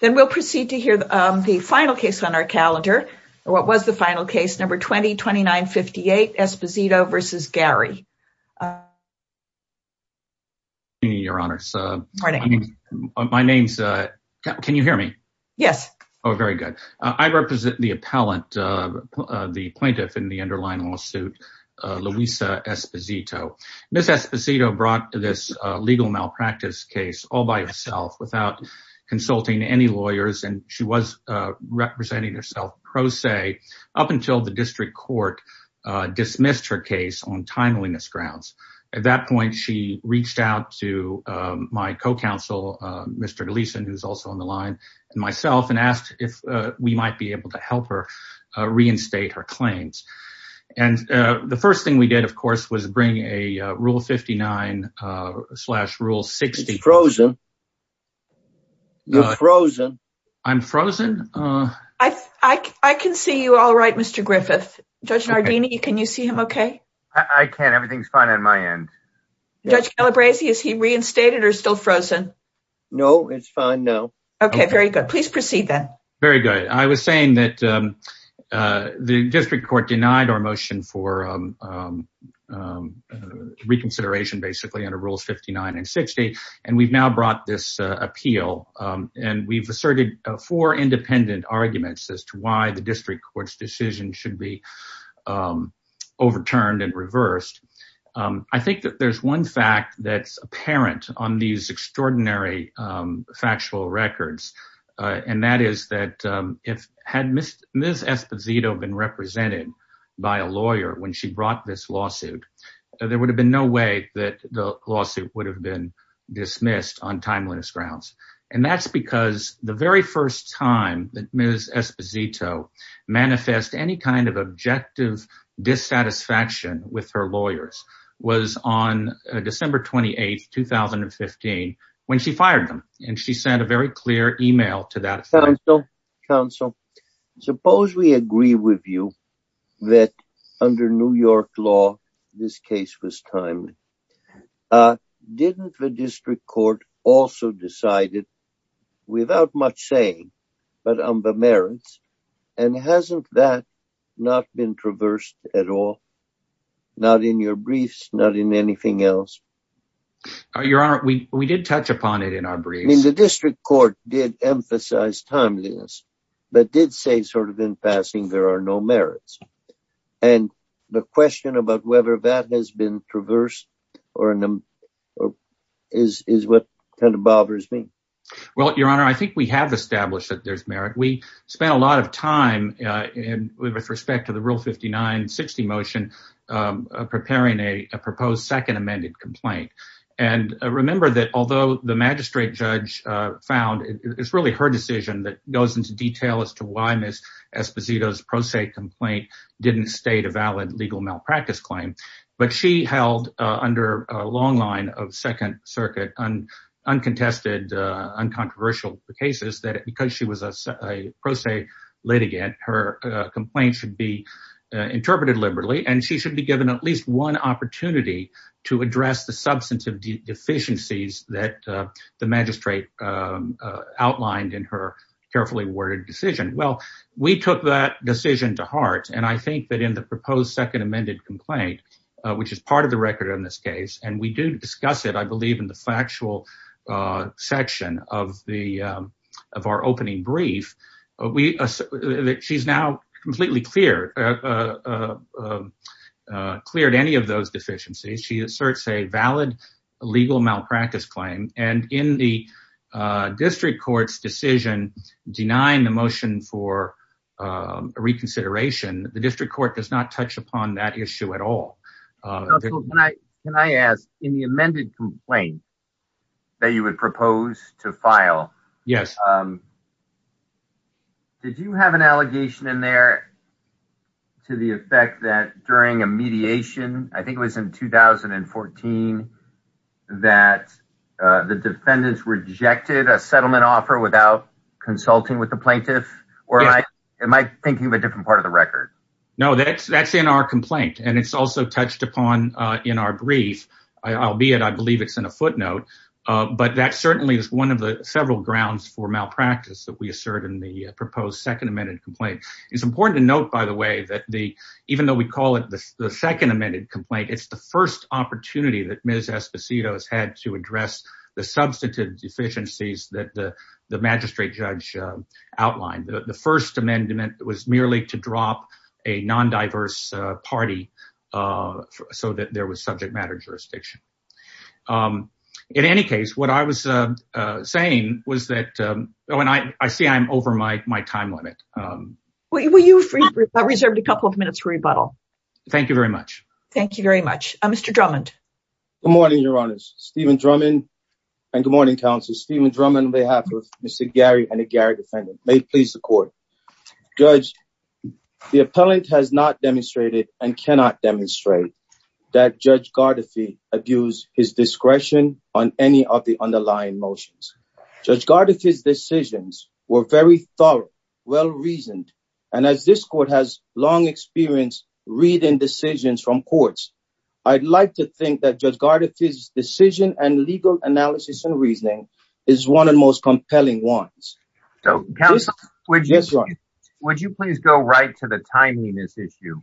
Then we'll proceed to hear the final case on our calendar. What was the final case? Number 202958 Esposito versus Gary. Good evening, your honors. My name's, can you hear me? Yes. Oh, very good. I represent the appellant, the plaintiff in the underlying lawsuit, Luisa Esposito. Ms. Esposito filed a legal malpractice case all by herself without consulting any lawyers. And she was representing herself pro se up until the district court dismissed her case on timeliness grounds. At that point, she reached out to my co-counsel, Mr. Gleason, who's also on the line, and myself and asked if we might be able to help her reinstate her claims. And the first thing we did, of course, was bring a rule 59 slash rule 60. It's frozen. You're frozen. I'm frozen? I can see you all right, Mr. Griffith. Judge Nardini, can you see him okay? I can. Everything's fine on my end. Judge Calabresi, is he reinstated or still frozen? No, it's fine now. Okay, very good. Please proceed then. Very good. I was saying that the district court denied our motion for reconsideration, basically, under rules 59 and 60. And we've now brought this appeal, and we've asserted four independent arguments as to why the district court's decision should be overturned and reversed. I think that there's one fact that's apparent on these extraordinary factual records, and that is that had Ms. Esposito been represented by a lawyer when she brought this lawsuit, there would have been no way that the lawsuit would have been dismissed on timeliness grounds. And that's because the very first time that Ms. Esposito manifest any kind of objective dissatisfaction with her lawyers was on December 28, 2015, when she fired them. And she sent a very clear email to that. Counsel, suppose we agree with you that under New York law, this case was timely. Didn't the district court also decided, without much saying, but on the merits? And hasn't that not been traversed at all? Not in your briefs, not in anything else? Your Honor, we did touch upon it in our briefs. The district court did emphasize timeliness, but did say sort of in passing, there are no merits. And the question about whether that has been traversed is what kind of bothers me. Well, Your Honor, I think we have established that there's merit. We spent a lot of time with respect to the Rule 59-60 motion preparing a proposed second amended complaint. And remember that although the magistrate judge found, it's really her decision that goes into detail as to why Ms. Esposito's pro se complaint didn't state a valid legal malpractice claim. But she held under a long line of Second Circuit uncontested, uncontroversial cases that because she was a pro se litigant, her complaint should be interpreted liberally. And she should be given at least one opportunity to address the substantive deficiencies that the magistrate outlined in her carefully worded decision. Well, we took that decision to heart. And I think that in the proposed second amended complaint, which is part of the record in this case, and we do discuss it, I believe, in the factual section of our opening brief, we, she's now completely clear, cleared any of those deficiencies. She asserts a valid legal malpractice claim. And in the district court's decision denying the motion for reconsideration, the district court does not touch upon that issue at all. Can I ask in the amended complaint that you would propose to file? Yes. Did you have an allegation in there to the effect that during a mediation, I think it was in 2014, that the defendants rejected a settlement offer without consulting with the plaintiff? Or am I thinking of a different part of the record? No, that's in our complaint. And it's also touched upon in our brief, albeit I believe it's in a footnote. But that certainly is one of the several grounds for malpractice that we assert in the proposed second amended complaint. It's important to note, by the way, that even though we call it the second amended complaint, it's the first opportunity that Ms. Esposito has had to address the substantive deficiencies that the magistrate judge outlined. The first amendment was merely to drop a non-diverse party so that there was subject matter jurisdiction. In any case, what I was saying was that, oh, and I see I'm over my time limit. Will you reserve a couple of minutes for rebuttal? Thank you very much. Thank you very much. Mr. Drummond. Good morning, Your Honors. Stephen Drummond and good morning, counsel. Stephen Drummond on behalf of Mr. Gary and the Gary defendant. May it please the court. Judge, the appellant has not demonstrated and cannot demonstrate that Judge Gardefee abused his discretion on any of the underlying motions. Judge Gardefee's decisions were very thorough, well-reasoned, and as this court has long experience reading decisions from courts, I'd like to think that Judge Gardefee's decision and legal analysis and reasoning is one of the most compelling ones. So, counsel, would you please go right to the timeliness issue?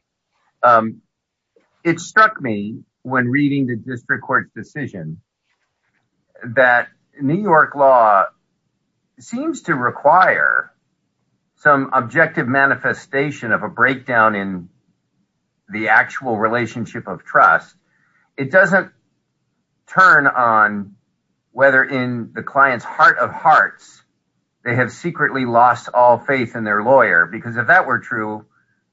It struck me when reading the district court's decision that New York law seems to require some objective manifestation of a breakdown in the actual relationship of trust. It doesn't turn on whether in the client's heart of hearts, they have secretly lost all faith in their lawyer, because if that were true,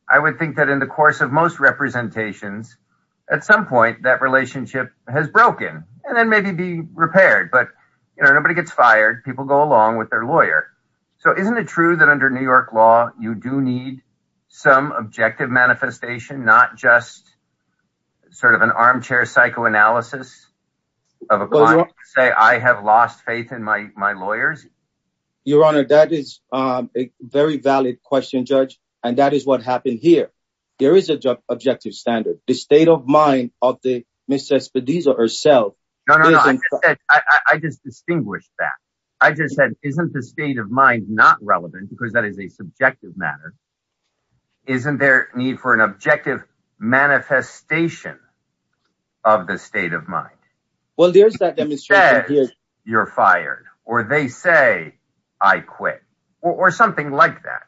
I would think that in the course of most representations, at some point, that relationship has broken and then maybe be repaired. But, you know, nobody gets fired. People go along with their lawyer. So isn't it true that under New York law, you do need some objective manifestation, not just sort of an armchair psychoanalysis of a client to say, I have lost faith in my lawyers? Your Honor, that is a very valid question, Judge. And that is what happened here. There is an objective standard. The state of mind of the Ms. Cespedes herself— No, no, no, I just said—I just distinguished that. I just said, isn't the state of mind not relevant, because that is a subjective matter? Isn't there need for an objective manifestation of the state of mind? Well, there's that demonstration here— That you're fired, or they say, I quit, or something like that.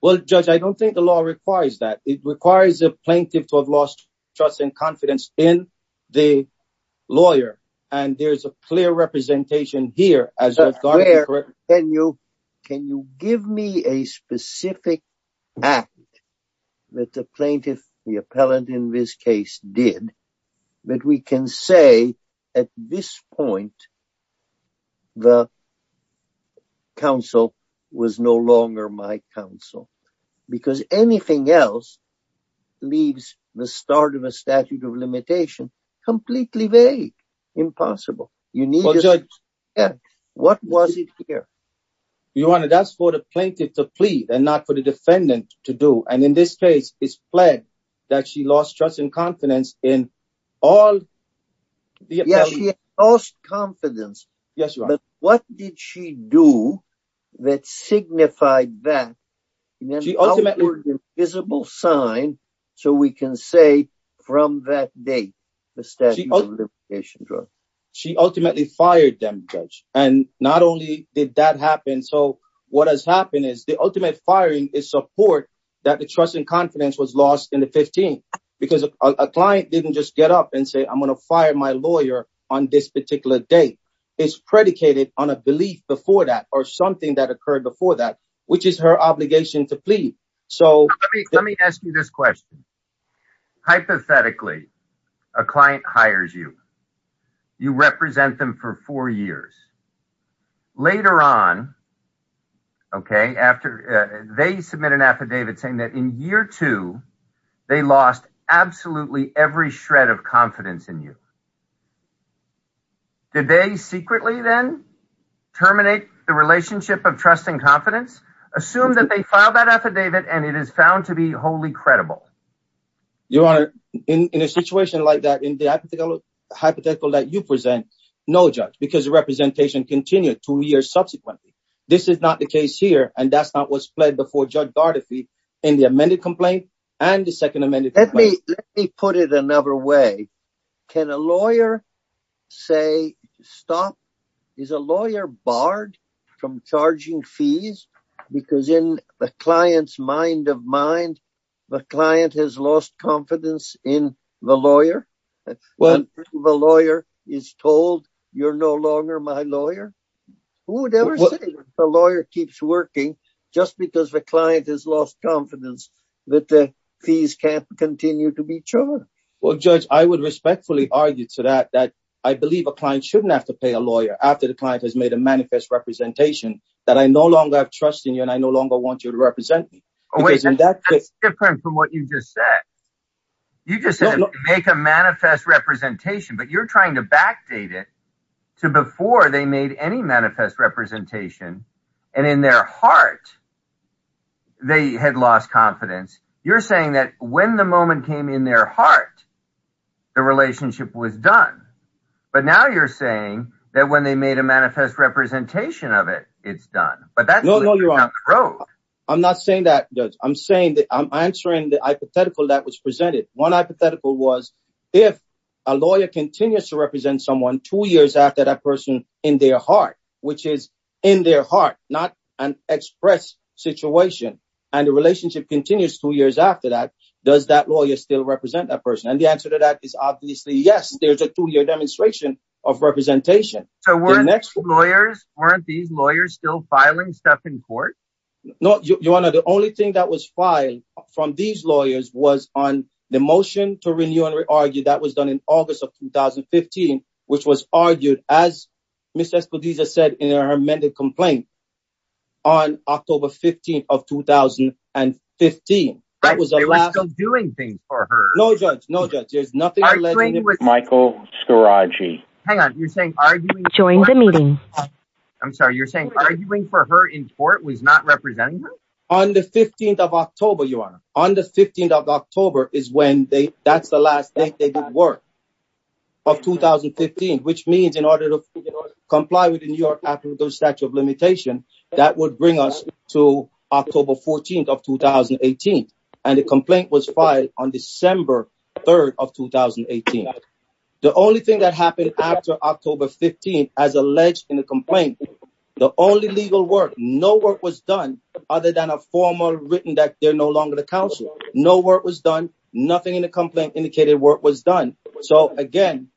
Well, Judge, I don't think the law requires that. It requires a plaintiff to have lost trust and confidence in the lawyer. And there's a clear representation here as— Can you give me a specific act that the plaintiff, the appellant in this case, did that we can say, at this point, the counsel was no longer my counsel? Because anything else leaves the start of a statute of limitation completely vague, impossible. You need— Well, Judge— What was it here? Your Honor, that's for the plaintiff to plead and not for the defendant to do. And in this case, it's pled that she lost trust and confidence in all— Yes, she lost confidence. Yes, Your Honor. But what did she do that signified that in an outward and visible sign, so we can say, from that date, the statute of limitation drug? She ultimately fired them, Judge. And not only did that happen, so what has happened is the ultimate firing is support that the trust and confidence was lost in the 15th. Because a client didn't just get up and say, I'm going to fire my lawyer on this particular date. It's predicated on a belief before that or something that occurred before that, which is her obligation to plead. So— Let me ask you this question. Hypothetically, a client hires you. You represent them for four years. Later on, okay, after they submit an affidavit saying that in year two, they lost absolutely every shred of confidence in you. Did they secretly then terminate the relationship of trust and confidence? Assume that they filed that affidavit and it is found to be wholly credible. Your Honor, in a situation like that, in the hypothetical that you present, no, Judge, because the representation continued two years subsequently. This is not the case here. And that's not what's pled before Judge Gardafi in the amended complaint and the second amended complaint. Let me put it another way. Can a lawyer say, stop? Is a lawyer barred from charging fees? Because in the client's mind of mind, the client has lost confidence in the lawyer. When the lawyer is told you're no longer my lawyer, who would ever say the lawyer keeps working just because the client has lost confidence that the fees can't continue to be charged? Well, Judge, I would respectfully argue to that, that I believe a client shouldn't have to pay a lawyer after the client has made a manifest representation that I no longer have trust in you and I no longer want you to represent me. Wait, that's different from what you just said. You just said make a manifest representation, but you're trying to backdate it to before they made any manifest representation. And in their heart, they had lost confidence. You're saying that when the moment came in their heart, the relationship was done. But now you're saying that when they made a manifest representation of it, it's done. I'm not saying that, Judge. I'm saying that I'm answering the hypothetical that was presented. One hypothetical was if a lawyer continues to represent someone two years after that person in their heart, which is in their heart, not an express situation, and the relationship continues two years after that, does that lawyer still represent that person? And the answer to that is obviously yes, there's a two-year demonstration of representation. So weren't these lawyers still filing stuff in court? Your Honor, the only thing that was filed from these lawyers was on the motion to renew and re-argue that was done in August of 2015, which was argued, as Ms. Espediza said in her amended complaint, on October 15th of 2015. Right, they were still doing things for her. No, Judge. No, Judge. There's nothing alleged in it. Michael Scaraggi. Hang on. You're saying arguing for her in court was not representing her? On the 15th of October, Your Honor. On the 15th of October is when they... That's the last date they did work of 2015, which means in order to comply with the New York African Statute of Limitation, that would bring us to October 14th of 2018. And the complaint was filed on December 3rd of 2018. The only thing that happened after October 15th, as alleged in the complaint, the only legal work, no work was done other than a formal written that they're no longer the counsel. No work was done. Nothing in the complaint indicated work was done. So again,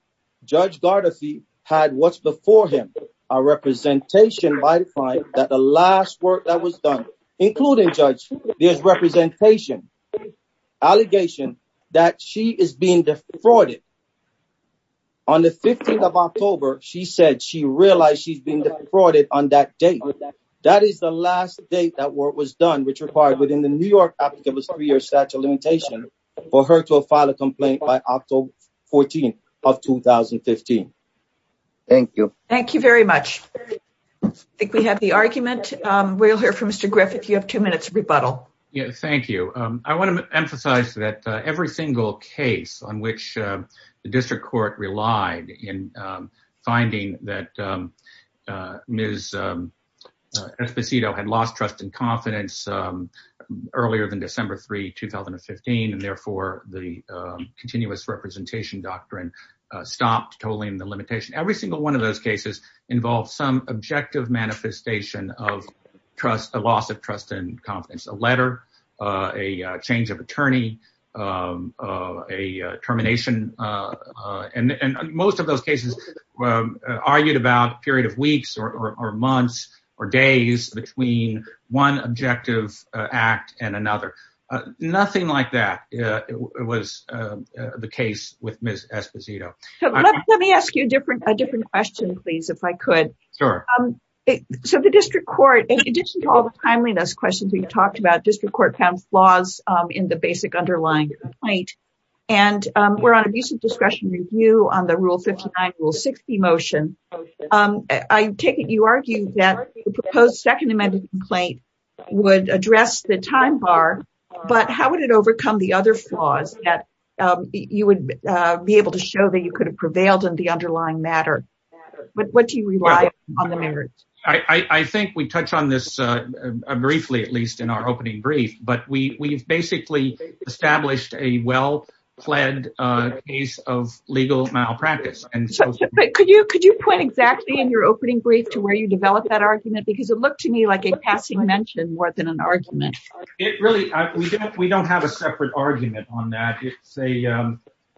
Judge Gardafi had what's before him, a representation by the fine that the last work that was done, including, Judge, there's representation, allegation that she is being defrauded. On the 15th of October, she said she realized she's being defrauded on that date. That is the last date that work was done, which required within the New York African Statute of Limitation for her to file a complaint by October 14th of 2015. Thank you. Thank you very much. I think we have the argument. We'll hear from Mr. Griffith. You have two minutes rebuttal. Thank you. I want to emphasize that every single case on which the district court relied in finding that Ms. Esposito had lost trust and confidence earlier than December 3, 2015, and therefore the continuous representation doctrine stopped tolling the limitation. Every single one of those cases involved some objective manifestation of trust, a loss of trust and confidence. A letter, a change of attorney, a termination. Most of those cases argued about a period of weeks or months or days between one objective act and another. Nothing like that was the case with Ms. Esposito. Let me ask you a different question, please, if I could. Sure. So the district court, in addition to all the timeliness questions we talked about, district court found flaws in the basic underlying complaint, and we're on a recent discretion review on the Rule 59, Rule 60 motion. I take it you argue that the proposed second amendment complaint would address the time bar, but how would it overcome the other flaws that you would be able to show that you could have prevailed in the underlying matter? What do you rely on the merits? I think we touch on this briefly, at least in our opening brief, but we've basically established a well-pled case of legal malpractice. Could you point exactly in your opening brief to where you develop that argument? Because it looked to me like a passing mention more than an argument. It really, we don't have a separate argument on that. It's a,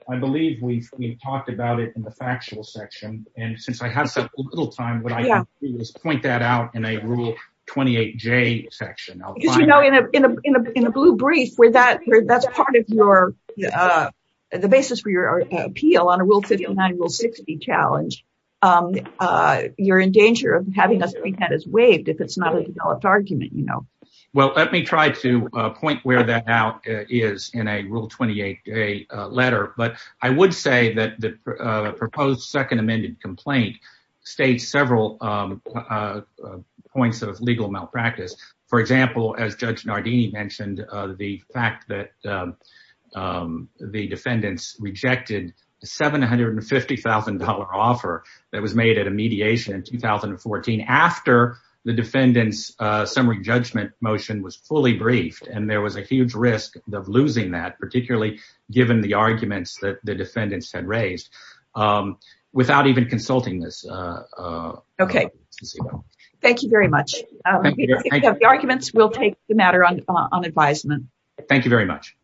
I believe we've talked about it in the factual section, and since I have so little time, what I can do is point that out in a Rule 28J section. Because you know, in a blue brief, where that's part of your, the basis for your appeal on a Rule 59, Rule 60 challenge, you're in danger of having that as waived if it's not a developed argument, you know. Well, let me try to point where that now is in a Rule 28J letter. But I would say that the proposed second amended complaint states several points of legal malpractice. For example, as Judge Nardini mentioned, the fact that the defendants rejected the $750,000 offer that was made at a mediation in 2014 after the defendant's summary judgment motion was fully briefed. And there was a huge risk of losing that, particularly given the arguments that the defendants had raised, without even consulting this. Okay. Thank you very much. The arguments will take the matter on advisement. Thank you very much.